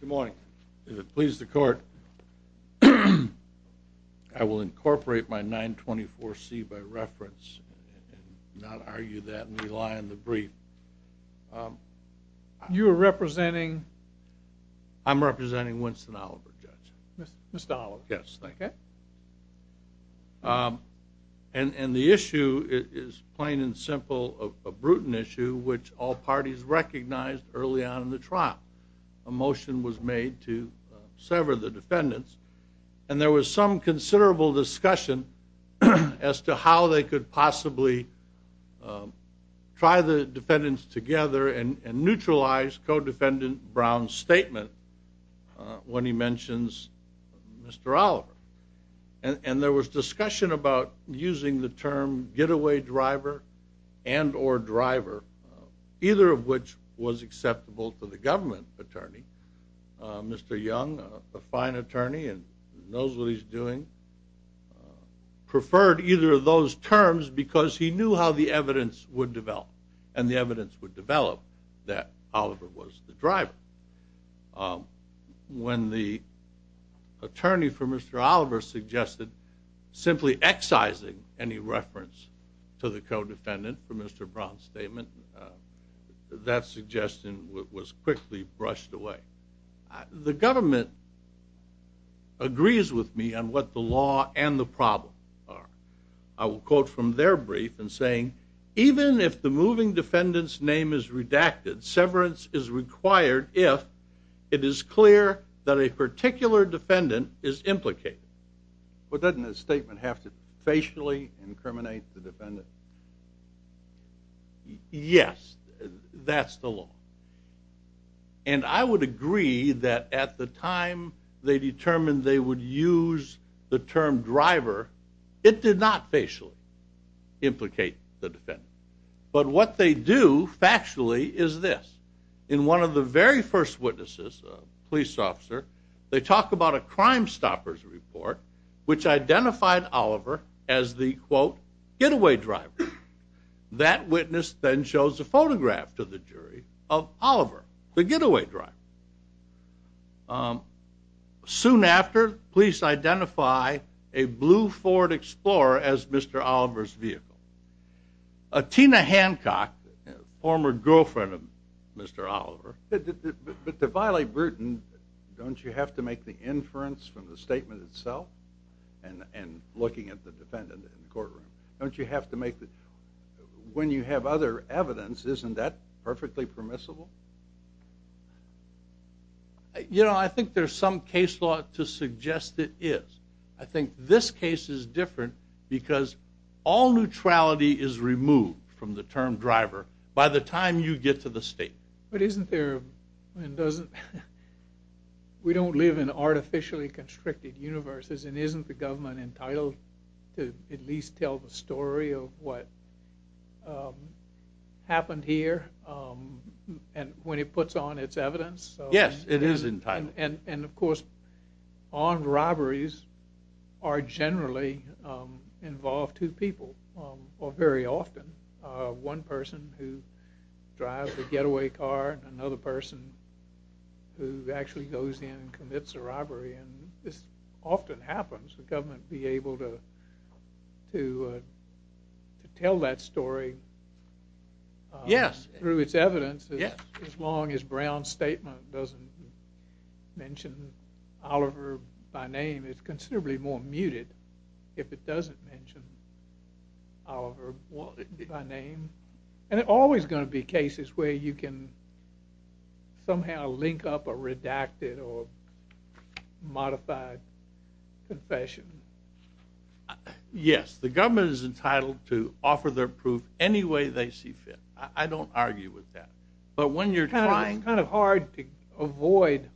Good morning. If it pleases the court, I will incorporate my 924C by reference and not argue that and rely on the brief. You are representing? I'm representing Winston Oliver, Judge. Mr. Oliver. Yes, thank you. And the issue is plain and simple a brutal issue which all parties recognized early on in the trial. A motion was made to sever the defendants and there was some considerable discussion as to how they could possibly try the defendants together and neutralize co-defendant Brown's statement when he mentions Mr. Oliver. And there was discussion about using the term getaway driver and or driver, either of which was acceptable to the government attorney. Mr. Young, a fine attorney he's doing, preferred either of those terms because he knew how the evidence would develop and the evidence would develop that Oliver was the driver. When the attorney for Mr. Oliver suggested simply excising any reference to the co-defendant for Mr. Brown's statement, that suggestion was quickly brushed away. The government agrees with me on what the law and the problem are. I will quote from their brief in saying, even if the moving defendant's name is redacted, severance is required if it is clear that a particular defendant is implicated. But doesn't the statement have to facially incriminate the defendant? Yes, that's the law. And I would agree that at the time they determined they would use the term driver, it did not facially implicate the defendant. But what they do factually is this. In one of the very first witnesses, a police officer, they talk about a crime stoppers report which identified Oliver as the, quote, getaway driver. That witness then shows a photograph to the jury of Oliver, the getaway driver. Soon after, police identify a blue Ford Explorer as Mr. Oliver's vehicle. Tina Hancock, former evidence, isn't that perfectly permissible? You know, I think there's some case law to suggest it is. I think this case is different because all neutrality is removed from the term driver by the time you get to the state. But isn't there, and doesn't, we don't live in artificially constricted universes and isn't the government entitled to at least tell the story of what happened here and when it puts on its evidence? Yes, it is entitled. And of course, armed robberies are generally involved two people, or very often. One person who drives the getaway car and another person who actually goes in and commits a robbery. And this often happens. The government be able to tell that story Yes. Through its evidence, as long as Brown's statement doesn't mention Oliver by name, it's considerably more muted if it doesn't mention Oliver by name. And there's always going to be cases where you can somehow link up a redacted or modified confession. Yes, the government is entitled to offer their proof any way they see fit. I don't argue with that. But when you're trying... It's kind of hard to avoid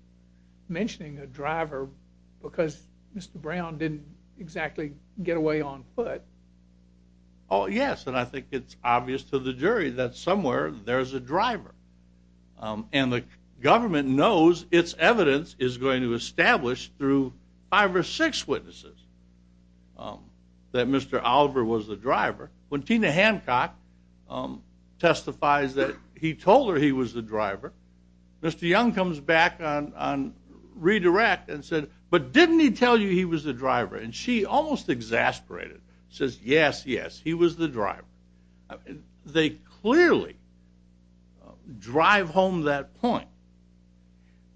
mentioning a driver because Mr. Brown didn't exactly get away on foot. Oh, yes, and I think it's obvious to the jury that somewhere there's a driver. And the government knows its evidence is going to establish through five or six witnesses that Mr. Oliver was the driver. When Tina Hancock testifies that he told her he was the driver, Mr. Young comes back on redirect and said, but didn't he tell you he was the driver? And she almost exasperated. Says, yes, yes, he was the driver. They clearly drive home that point.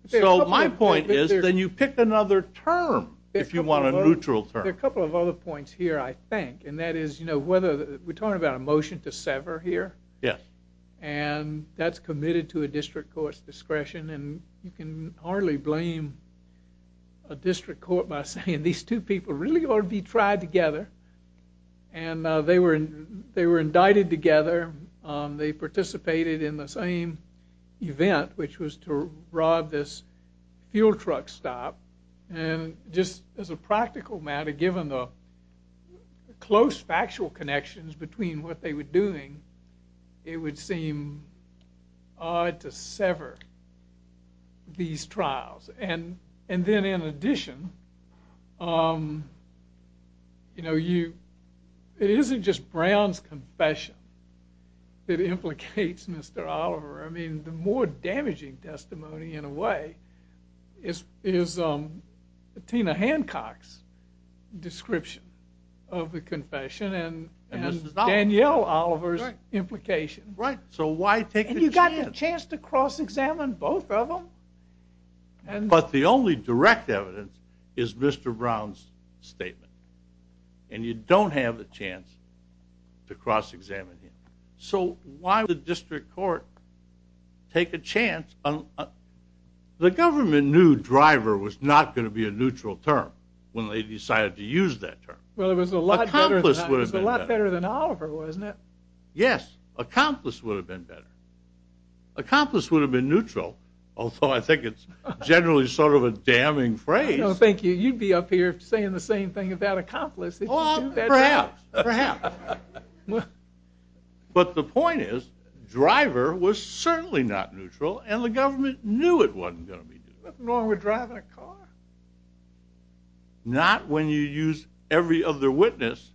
So my point is, then you pick another term if you want a neutral term. A couple of other points here, I think, and that is, you know, whether we're talking about a motion to sever here. Yes. And that's committed to a district court's discretion. And you can hardly blame a district court by saying these two people really ought to be tried together. And they were they were indicted together. They participated in the same event, which was to rob this fuel truck stop. And just as a practical matter, given the close factual connections between what they were doing, it would seem odd to sever these trials. And then in addition, you know, it isn't just Brown's confession that implicates Mr. Oliver. I mean, the more damaging testimony, in a way, is Tina Hancock's description of the confession and Daniel Oliver's implication. Right. So why take the chance to cross examine both of them? But the only direct evidence is Mr. Brown's statement. And you don't have a chance to cross examine him. So why would the district court take a chance? The government knew driver was not going to be a neutral term when they decided to use that term. Well, it was a lot better than Oliver, wasn't it? Yes. Accomplice would have been better. Accomplice would have been neutral, although I think it's generally sort of a damning phrase. I don't think you'd be up here saying the same thing about accomplice. Oh, perhaps, perhaps. But the point is, driver was certainly not neutral, and the government knew it wasn't going to be neutral. What's wrong with driving a car? Not when you use every other witness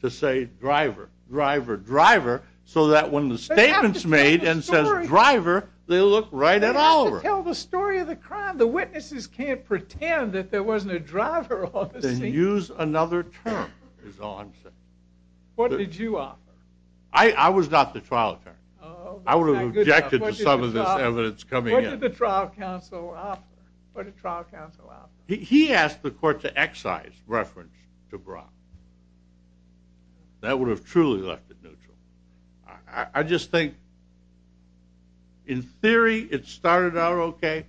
to say driver, driver, driver, so that when the statement's made and says driver, they look right at Oliver. They have to tell the story of the crime. The witnesses can't pretend that there wasn't a driver on the scene. Then use another term, is all I'm saying. What did you offer? I was not the trial attorney. Oh, that's not good enough. I would have objected to some of this evidence coming in. What did the trial counsel offer? He asked the court to excise reference to Brock. That would have truly left it neutral. I just think, in theory, it started out okay.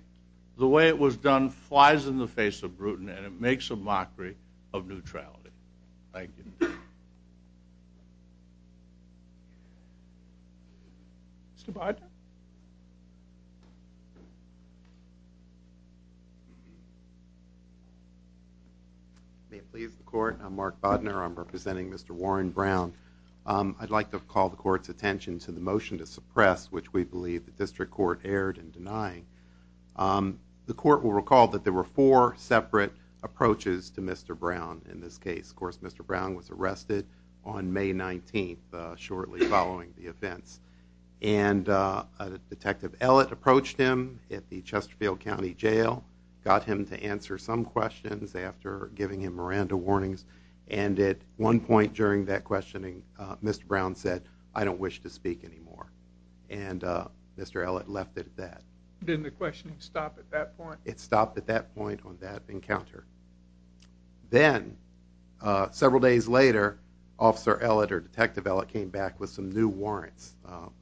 The way it was done flies in the face of Bruton, and it makes a mockery of neutrality. Thank you. Mr. Bodner? Didn't the questioning stop at that point? It stopped at that point on that encounter. Then, several days later, Detective Ellett came back with some new warrants,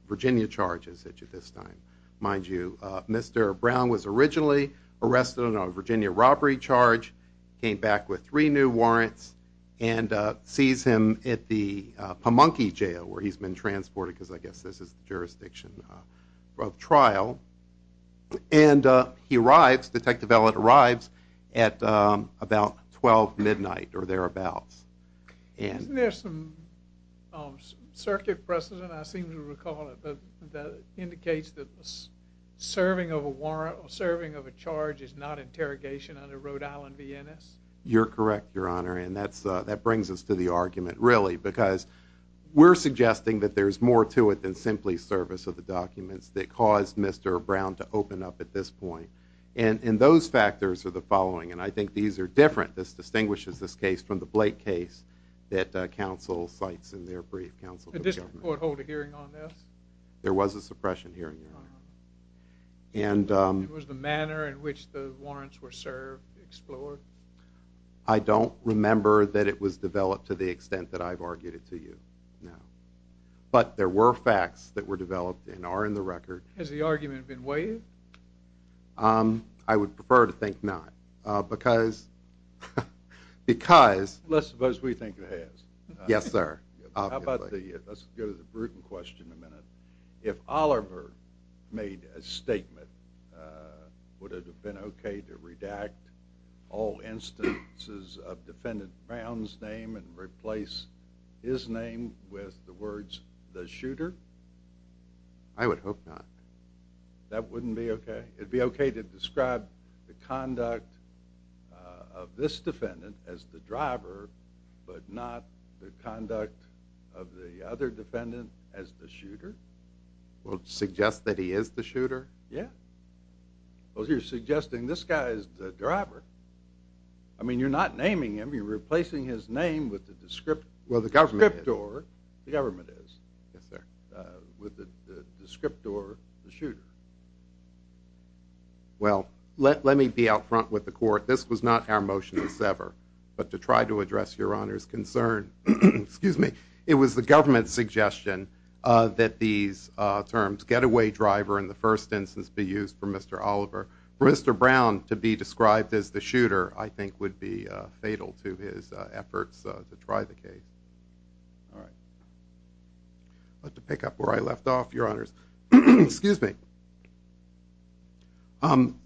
Virginia charges this time. Mind you, Mr. Brown was originally arrested on a Virginia robbery charge, came back with three new warrants, and sees him at the Pamunkey Jail, where he's been transported, because I guess this is the jurisdiction of trial. Detective Ellett arrives at about 12 midnight, or thereabouts. Isn't there some circuit precedent, I seem to recall it, that indicates that serving of a warrant or serving of a charge is not interrogation under Rhode Island V.N.S.? You're correct, Your Honor, and that brings us to the argument, really, because we're suggesting that there's more to it than simply service of the documents that caused Mr. Brown to open up at this point, and those factors are the following, and I think these are different. This distinguishes this case from the Blake case that counsel cites in their brief. Did the district court hold a hearing on this? There was a suppression hearing, Your Honor. Was the manner in which the warrants were served explored? I don't remember that it was developed to the extent that I've argued it to you, no, but there were facts that were developed and are in the record. Has the argument been waived? I would prefer to think not, because... Let's suppose we think it has. Yes, sir. Let's go to the Bruton question in a minute. If Oliver made a statement, would it have been okay to redact all instances of Defendant Brown's name and replace his name with the words, the shooter? I would hope not. That wouldn't be okay? It'd be okay to describe the conduct of this defendant as the driver, but not the conduct of the other defendant as the shooter? Well, to suggest that he is the shooter? Yeah. Well, you're suggesting this guy is the driver. I mean, you're not naming him. You're replacing his name with the descriptor. Well, the government is. The government is. Yes, sir. With the descriptor, the shooter. Well, let me be out front with the court. This was not our motion to sever, but to try to address Your Honor's concern. Excuse me. It was the government's suggestion that these terms, getaway driver in the first instance, be used for Mr. Oliver. For Mr. Brown to be described as the shooter, I think, would be fatal to his efforts to try the case. All right. I'll have to pick up where I left off, Your Honors. Excuse me.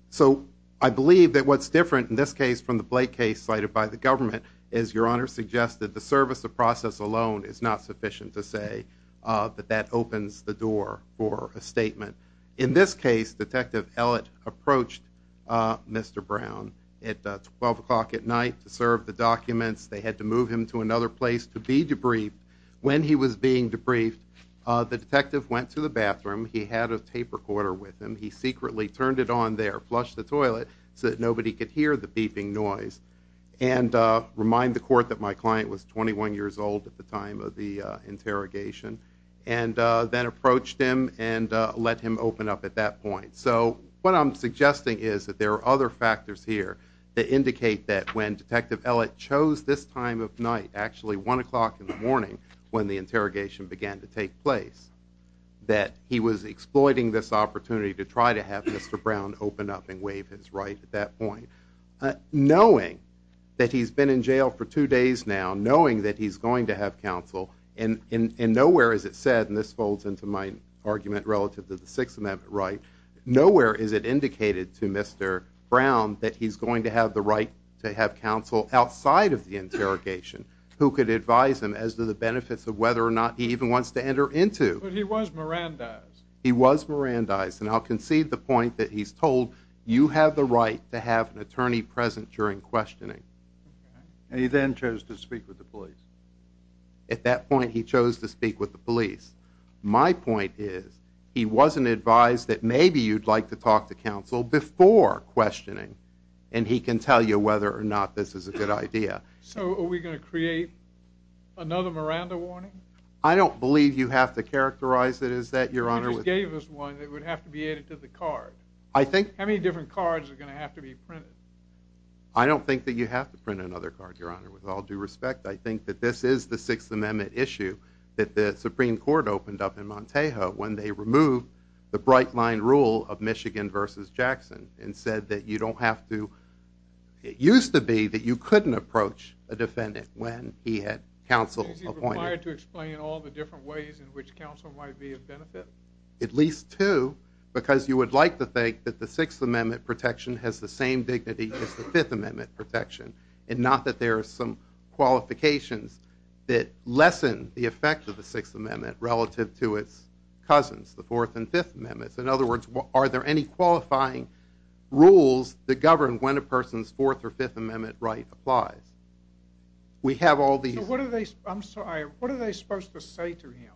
So, I believe that what's different in this case from the Blake case cited by the government is, Your Honor, suggests that the service of process alone is not sufficient to say that that opens the door for a statement. In this case, Detective Ellett approached Mr. Brown at 12 o'clock at night to serve the documents. They had to move him to another place to be debriefed. When he was being debriefed, the detective went to the bathroom. He had a tape recorder with him. He secretly turned it on there, flushed the toilet, so that nobody could hear the beeping noise, and reminded the court that my client was 21 years old at the time of the interrogation, and then approached him and let him open up at that point. So, what I'm suggesting is that there are other factors here that indicate that when Detective Ellett chose this time of night, actually 1 o'clock in the morning when the interrogation began to take place, that he was exploiting this opportunity to try to have Mr. Brown open up and waive his right at that point. Knowing that he's been in jail for two days now, knowing that he's going to have counsel, and nowhere is it said, and this folds into my argument relative to the Sixth Amendment right, nowhere is it indicated to Mr. Brown that he's going to have the right to have counsel outside of the interrogation who could advise him as to the benefits of whether or not he even wants to enter into. But he was Mirandized. He was Mirandized, and I'll concede the point that he's told, you have the right to have an attorney present during questioning. And he then chose to speak with the police. At that point, he chose to speak with the police. My point is, he wasn't advised that maybe you'd like to talk to counsel before questioning, and he can tell you whether or not this is a good idea. So, are we going to create another Miranda warning? I don't believe you have to characterize it as that, Your Honor. You just gave us one that would have to be added to the card. How many different cards are going to have to be printed? I don't think that you have to print another card, Your Honor. With all due respect, I think that this is the Sixth Amendment issue that the Supreme Court opened up in Montejo when they removed the bright-line rule of Michigan v. Jackson and said that you don't have to—it used to be that you couldn't approach a defendant when he had counsel appointed. Is he required to explain all the different ways in which counsel might be of benefit? At least two, because you would like to think that the Sixth Amendment protection has the same dignity as the Fifth Amendment protection, and not that there are some qualifications that lessen the effect of the Sixth Amendment relative to its cousins, the Fourth and Fifth Amendments. In other words, are there any qualifying rules that govern when a person's Fourth or Fifth Amendment right applies? I'm sorry, what are they supposed to say to him?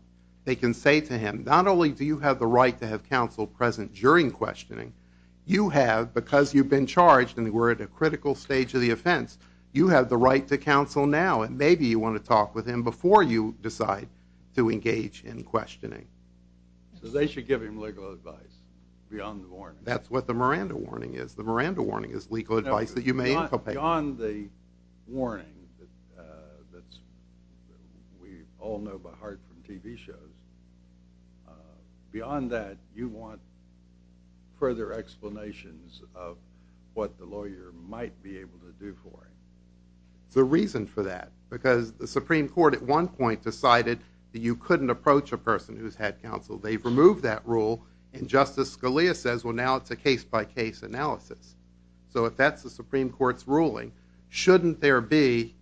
They can say to him, not only do you have the right to have counsel present during questioning, you have, because you've been charged and we're at a critical stage of the offense, you have the right to counsel now, and maybe you want to talk with him before you decide to engage in questioning. So they should give him legal advice beyond the warning. That's what the Miranda warning is. The Miranda warning is legal advice that you may inculcate. Beyond the warning that we all know by heart from TV shows, beyond that, you want further explanations of what the lawyer might be able to do for him. There's a reason for that, because the Supreme Court at one point decided that you couldn't approach a person who's had counsel. They've removed that rule, and Justice Scalia says, well, now it's a case-by-case analysis. So if that's the Supreme Court's ruling, shouldn't there be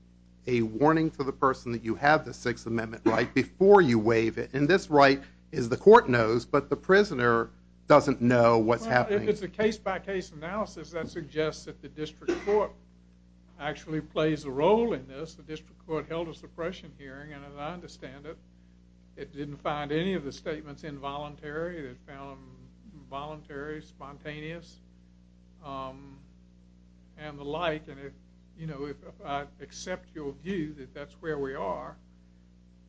a warning to the person that you have the Sixth Amendment right before you waive it? And this right is the court knows, but the prisoner doesn't know what's happening. Well, if it's a case-by-case analysis, that suggests that the district court actually plays a role in this. The district court held a suppression hearing, and as I understand it, it didn't find any of the statements involuntary. It found them involuntary, spontaneous, and the like. And if I accept your view that that's where we are,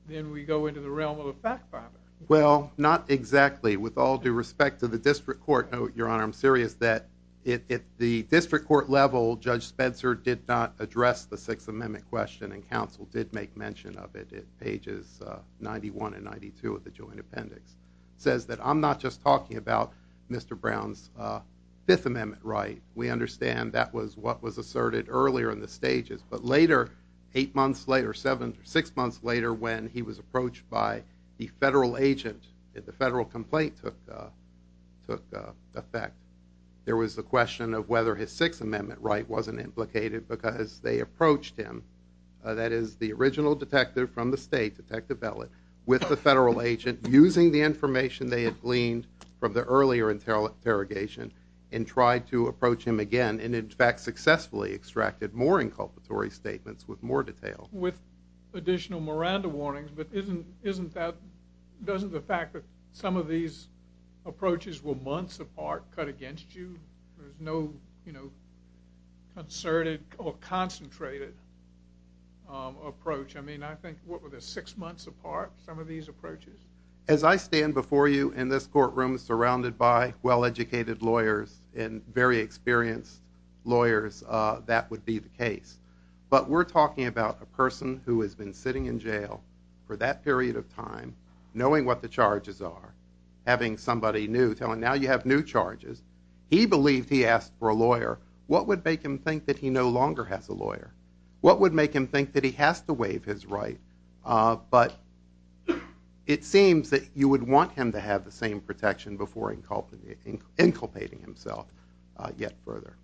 then we go into the realm of the fact-finder. Well, not exactly. With all due respect to the district court, Your Honor, I'm serious that at the district court level, Judge Spencer did not address the Sixth Amendment question, and counsel did make mention of it at pages 91 and 92 of the joint appendix. It says that I'm not just talking about Mr. Brown's Fifth Amendment right. We understand that was what was asserted earlier in the stages, but later, eight months later, six months later, when he was approached by the federal agent, the federal complaint took effect, there was the question of whether his Sixth Amendment right wasn't implicated because they approached him, that is, the original detective from the state, Detective Bellet, with the federal agent, using the information they had gleaned from the earlier interrogation, and tried to approach him again, and in fact successfully extracted more inculpatory statements with more detail. With additional Miranda warnings, but isn't that, doesn't the fact that some of these approaches were months apart cut against you? There's no concerted or concentrated approach. I mean, I think, what were there, six months apart, some of these approaches? As I stand before you in this courtroom surrounded by well-educated lawyers and very experienced lawyers, that would be the case. But we're talking about a person who has been sitting in jail for that period of time, knowing what the charges are, having somebody new tell him, now you have new charges, he believed he asked for a lawyer, what would make him think that he no longer has a lawyer? What would make him think that he has to waive his right? But it seems that you would want him to have the same protection before inculpating himself yet further.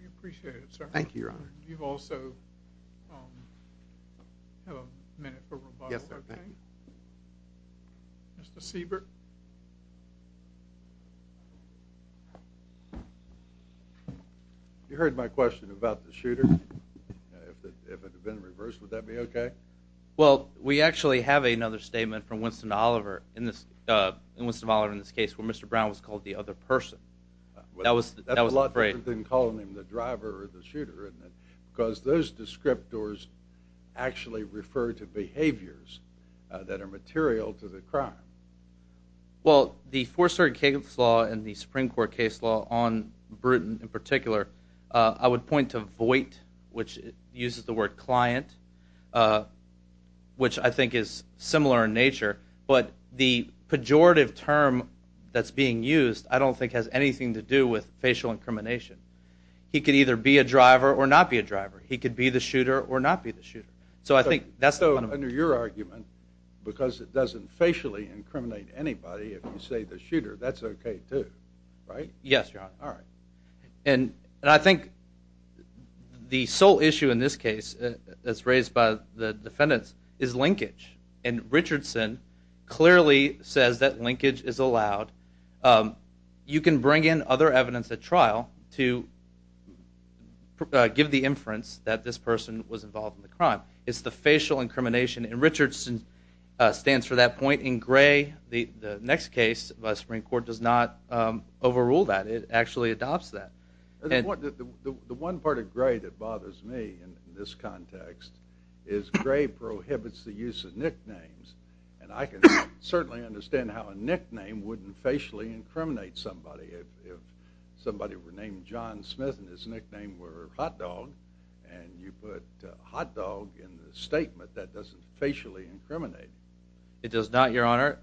We appreciate it, sir. Thank you, Your Honor. You also have a minute for rebuttal, I think. Yes, sir. Mr. Siebert. You heard my question about the shooter. If it had been reversed, would that be okay? Well, we actually have another statement from Winston Oliver in this case where Mr. Brown was called the other person. That's a lot different than calling him the driver or the shooter, isn't it? Because those descriptors actually refer to behaviors that are material to the crime. Well, the Fourth Circuit case law and the Supreme Court case law on Bruton in particular, I would point to void, which uses the word client, which I think is similar in nature. But the pejorative term that's being used I don't think has anything to do with facial incrimination. He could either be a driver or not be a driver. He could be the shooter or not be the shooter. So I think that's the fundamental. So under your argument, because it doesn't facially incriminate anybody, if you say the shooter, that's okay too, right? Yes, Your Honor. All right. And I think the sole issue in this case that's raised by the defendants is linkage. And Richardson clearly says that linkage is allowed. You can bring in other evidence at trial to give the inference that this person was involved in the crime. It's the facial incrimination. And Richardson stands for that point. In Gray, the next case, the Supreme Court does not overrule that. It actually adopts that. The one part of Gray that bothers me in this context is Gray prohibits the use of nicknames. And I can certainly understand how a nickname wouldn't facially incriminate somebody. If somebody were named John Smith and his nickname were Hot Dog, and you put Hot Dog in the statement, that doesn't facially incriminate. It does not, Your Honor.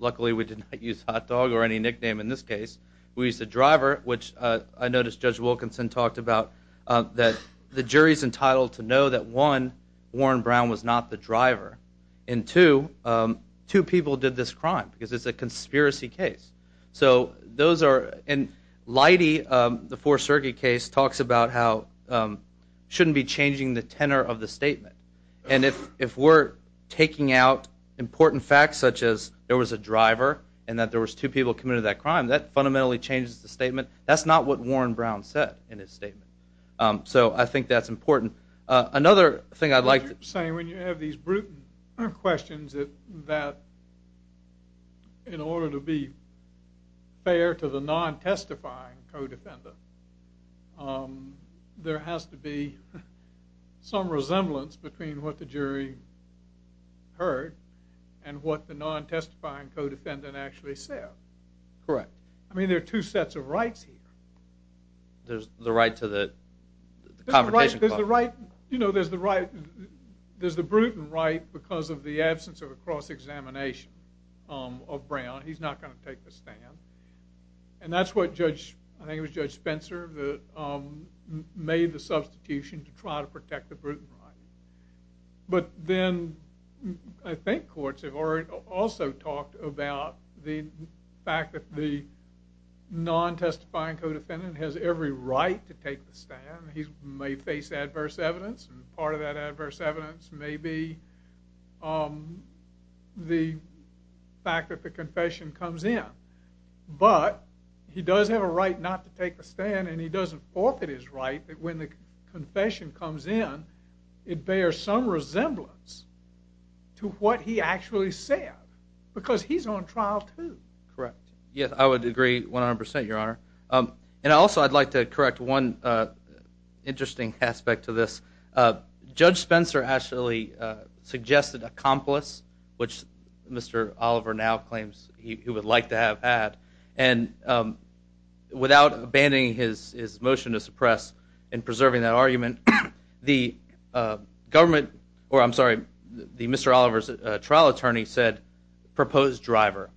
Luckily, we did not use Hot Dog or any nickname in this case. We used the driver, which I noticed Judge Wilkinson talked about, that the jury's entitled to know that, one, Warren Brown was not the driver, and, two, two people did this crime because it's a conspiracy case. And Leidy, the Fourth Circuit case, talks about how it shouldn't be changing the tenor of the statement. And if we're taking out important facts such as there was a driver and that there was two people committed that crime, that fundamentally changes the statement. That's not what Warren Brown said in his statement. So I think that's important. Another thing I'd like to say when you have these brutal questions that in order to be fair to the non-testifying co-defendant, there has to be some resemblance between what the jury heard and what the non-testifying co-defendant actually said. Correct. I mean, there are two sets of rights here. There's the right to the confrontation clause. There's the right, you know, there's the Bruton right because of the absence of a cross-examination of Brown. He's not going to take the stand. And that's what Judge, I think it was Judge Spencer, made the substitution to try to protect the Bruton right. But then I think courts have also talked about the fact that the non-testifying co-defendant has every right to take the stand. He may face adverse evidence, and part of that adverse evidence may be the fact that the confession comes in. But he does have a right not to take the stand, and he doesn't forfeit his right that when the confession comes in, it bears some resemblance to what he actually said, because he's on trial too. Correct. Yes, I would agree 100%, Your Honor. And also I'd like to correct one interesting aspect to this. Judge Spencer actually suggested accomplice, which Mr. Oliver now claims he would like to have had. And without abandoning his motion to suppress and preserving that argument, the government, or I'm sorry, the Mr. Oliver's trial attorney said, propose driver.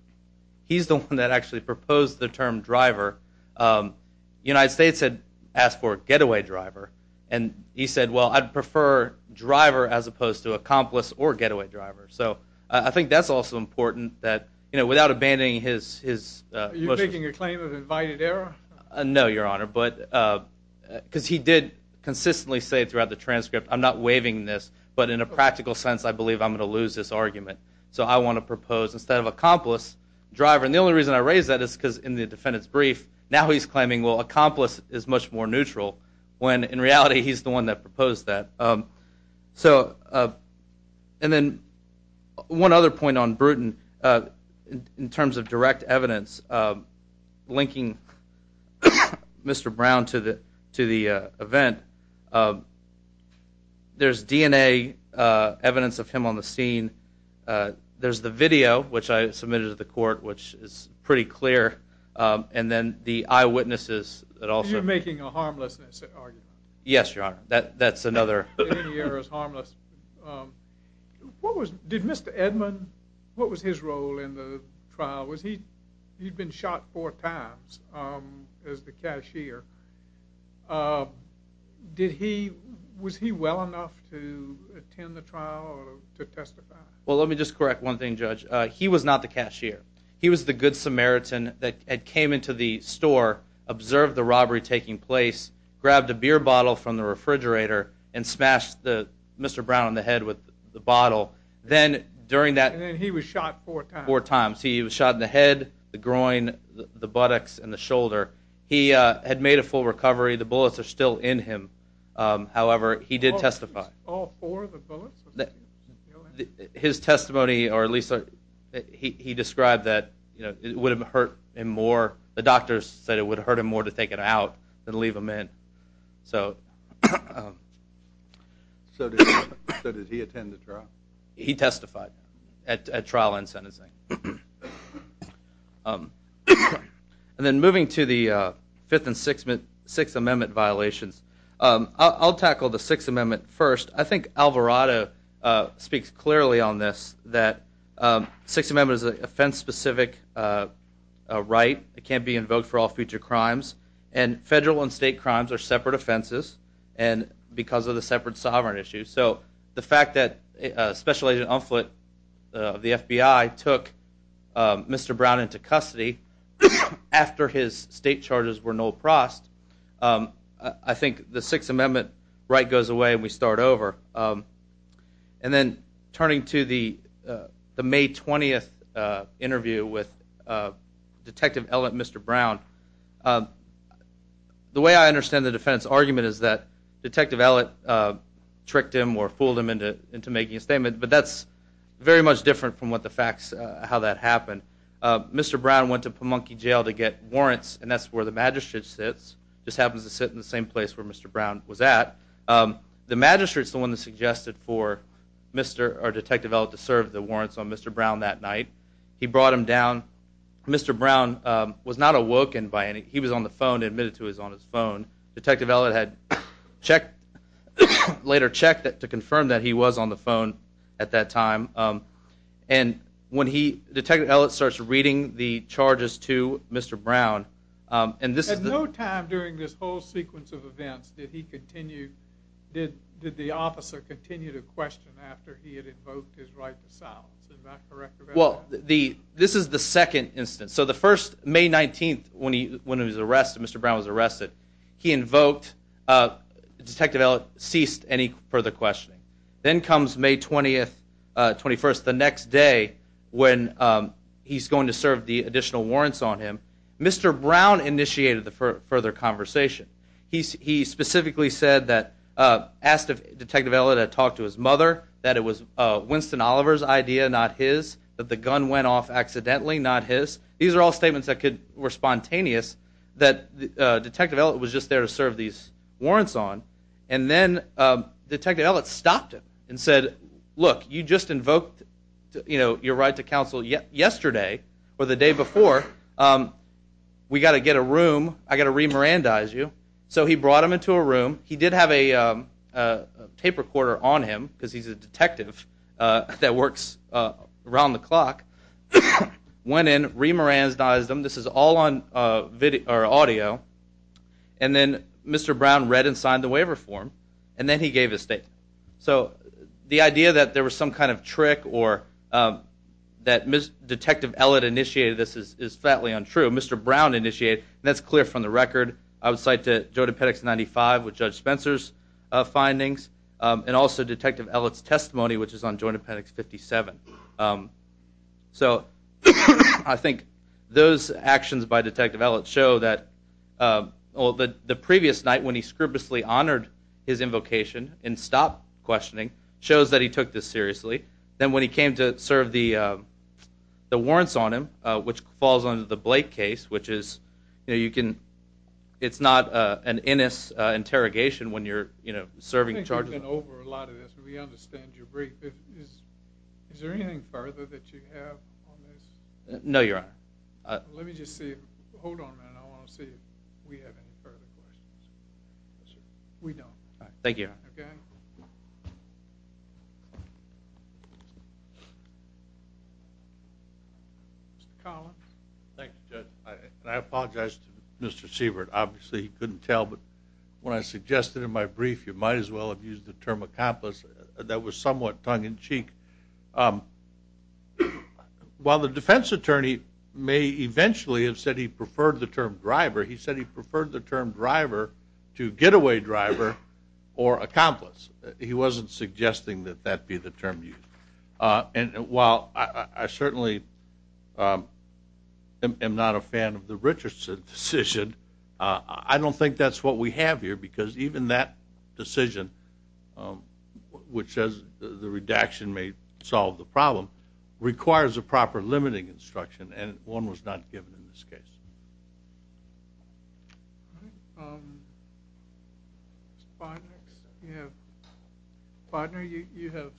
He's the one that actually proposed the term driver. The United States had asked for getaway driver, and he said, well, I'd prefer driver as opposed to accomplice or getaway driver. So I think that's also important that without abandoning his motion. Are you making a claim of invited error? No, Your Honor. Because he did consistently say throughout the transcript, I'm not waiving this, but in a practical sense I believe I'm going to lose this argument. So I want to propose instead of accomplice, driver. And the only reason I raise that is because in the defendant's brief, now he's claiming, well, accomplice is much more neutral, when in reality he's the one that proposed that. So and then one other point on Bruton, in terms of direct evidence linking Mr. Brown to the event, there's DNA evidence of him on the scene. There's the video, which I submitted to the court, which is pretty clear. And then the eyewitnesses that also. You're making a harmlessness argument. Yes, Your Honor. That's another. Any error is harmless. Did Mr. Edmund, what was his role in the trial? He'd been shot four times as the cashier. Was he well enough to attend the trial or to testify? Well, let me just correct one thing, Judge. He was not the cashier. He was the good Samaritan that came into the store, observed the robbery taking place, grabbed a beer bottle from the refrigerator, and smashed Mr. Brown in the head with the bottle. And then he was shot four times? Four times. He was shot in the head, the groin, the buttocks, and the shoulder. He had made a full recovery. The bullets are still in him. However, he did testify. All four of the bullets? His testimony, or at least he described that it would have hurt him more. The doctors said it would hurt him more to take it out than leave him in. So did he attend the trial? He testified at trial and sentencing. And then moving to the Fifth and Sixth Amendment violations, I'll tackle the Sixth Amendment first. I think Alvarado speaks clearly on this, that the Sixth Amendment is an offense-specific right. It can't be invoked for all future crimes. And federal and state crimes are separate offenses because of the separate sovereign issues. So the fact that Special Agent Unflint of the FBI took Mr. Brown into custody after his state charges were null prost, I think the Sixth Amendment right goes away and we start over. And then turning to the May 20th interview with Detective Ellett Mr. Brown, the way I understand the defendant's argument is that Detective Ellett tricked him or fooled him into making a statement, but that's very much different from how that happened. Mr. Brown went to Pamunkey Jail to get warrants, and that's where the magistrate sits. He just happens to sit in the same place where Mr. Brown was at. The magistrate's the one that suggested for Detective Ellett to serve the warrants on Mr. Brown that night. He brought him down. Mr. Brown was not awoken by anything. He was on the phone and admitted to it on his phone. Detective Ellett had later checked to confirm that he was on the phone at that time. Detective Ellett starts reading the charges to Mr. Brown. At no time during this whole sequence of events did the officer continue to question after he had invoked his right to silence, is that correct? This is the second instance. The first, May 19th, when Mr. Brown was arrested, Detective Ellett ceased any further questioning. Then comes May 21st, the next day, when he's going to serve the additional warrants on him. Mr. Brown initiated the further conversation. He specifically said that Detective Ellett had talked to his mother, that it was Winston Oliver's idea, not his, that the gun went off accidentally, not his. These are all statements that were spontaneous, that Detective Ellett was just there to serve these warrants on. Then Detective Ellett stopped him and said, look, you just invoked your right to counsel yesterday or the day before. We've got to get a room. I've got to remorandize you. So he brought him into a room. He did have a tape recorder on him because he's a detective that works around the clock. Went in, remorandized him. This is all on audio. Then Mr. Brown read and signed the waiver form, and then he gave his statement. The idea that there was some kind of trick or that Detective Ellett initiated this is flatly untrue. Mr. Brown initiated it, and that's clear from the record. I would cite the Joint Appendix 95 with Judge Spencer's findings, and also Detective Ellett's testimony, which is on Joint Appendix 57. So I think those actions by Detective Ellett show that the previous night, when he scrupulously honored his invocation and stopped questioning, shows that he took this seriously. Then when he came to serve the warrants on him, which falls under the Blake case, which is it's not an innes interrogation when you're serving charges. We've gone over a lot of this, but we understand your brief. Is there anything further that you have on this? No, Your Honor. Let me just see. Hold on a minute. I want to see if we have any further questions. We don't. Thank you, Your Honor. Okay. Mr. Collins. Thank you, Judge. I apologize to Mr. Sievert. Obviously he couldn't tell, but when I suggested in my brief, you might as well have used the term accomplice. That was somewhat tongue-in-cheek. While the defense attorney may eventually have said he preferred the term driver, he said he preferred the term driver to getaway driver or accomplice. He wasn't suggesting that that be the term used. While I certainly am not a fan of the Richardson decision, I don't think that's what we have here because even that decision, which says the redaction may solve the problem, requires a proper limiting instruction, and one was not given in this case. All right. Mr. Bodnar, you have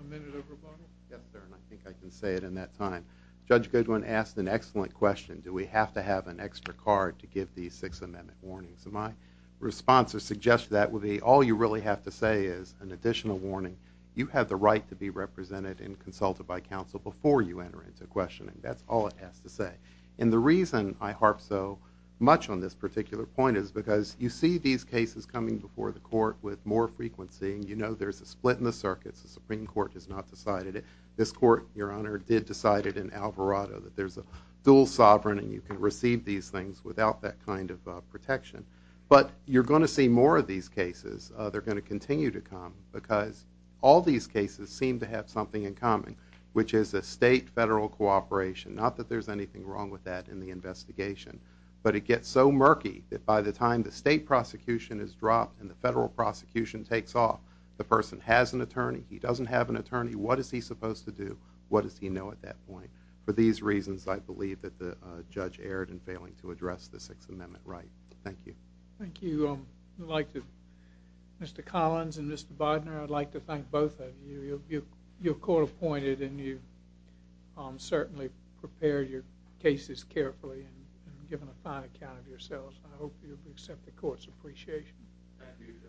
a minute over bottle? Yes, Your Honor. I think I can say it in that time. Judge Goodwin asked an excellent question. Do we have to have an extra card to give these Sixth Amendment warnings? My response to suggest that would be all you really have to say is an additional warning. You have the right to be represented and consulted by counsel before you enter into questioning. That's all it has to say. And the reason I harp so much on this particular point is because you see these cases coming before the court with more frequency, and you know there's a split in the circuits. The Supreme Court has not decided it. This court, Your Honor, did decide it in Alvarado that there's a dual sovereign and you can receive these things without that kind of protection. But you're going to see more of these cases. They're going to continue to come because all these cases seem to have something in common, which is a state-federal cooperation. Not that there's anything wrong with that in the investigation, but it gets so murky that by the time the state prosecution is dropped and the federal prosecution takes off, the person has an attorney. He doesn't have an attorney. What is he supposed to do? What does he know at that point? For these reasons, I believe that the judge erred in failing to address the Sixth Amendment right. Thank you. Thank you. I'd like to, Mr. Collins and Mr. Bodnar, I'd like to thank both of you. You're court-appointed and you've certainly prepared your cases carefully and given a fine account of yourselves. I hope you'll accept the court's appreciation. Thank you.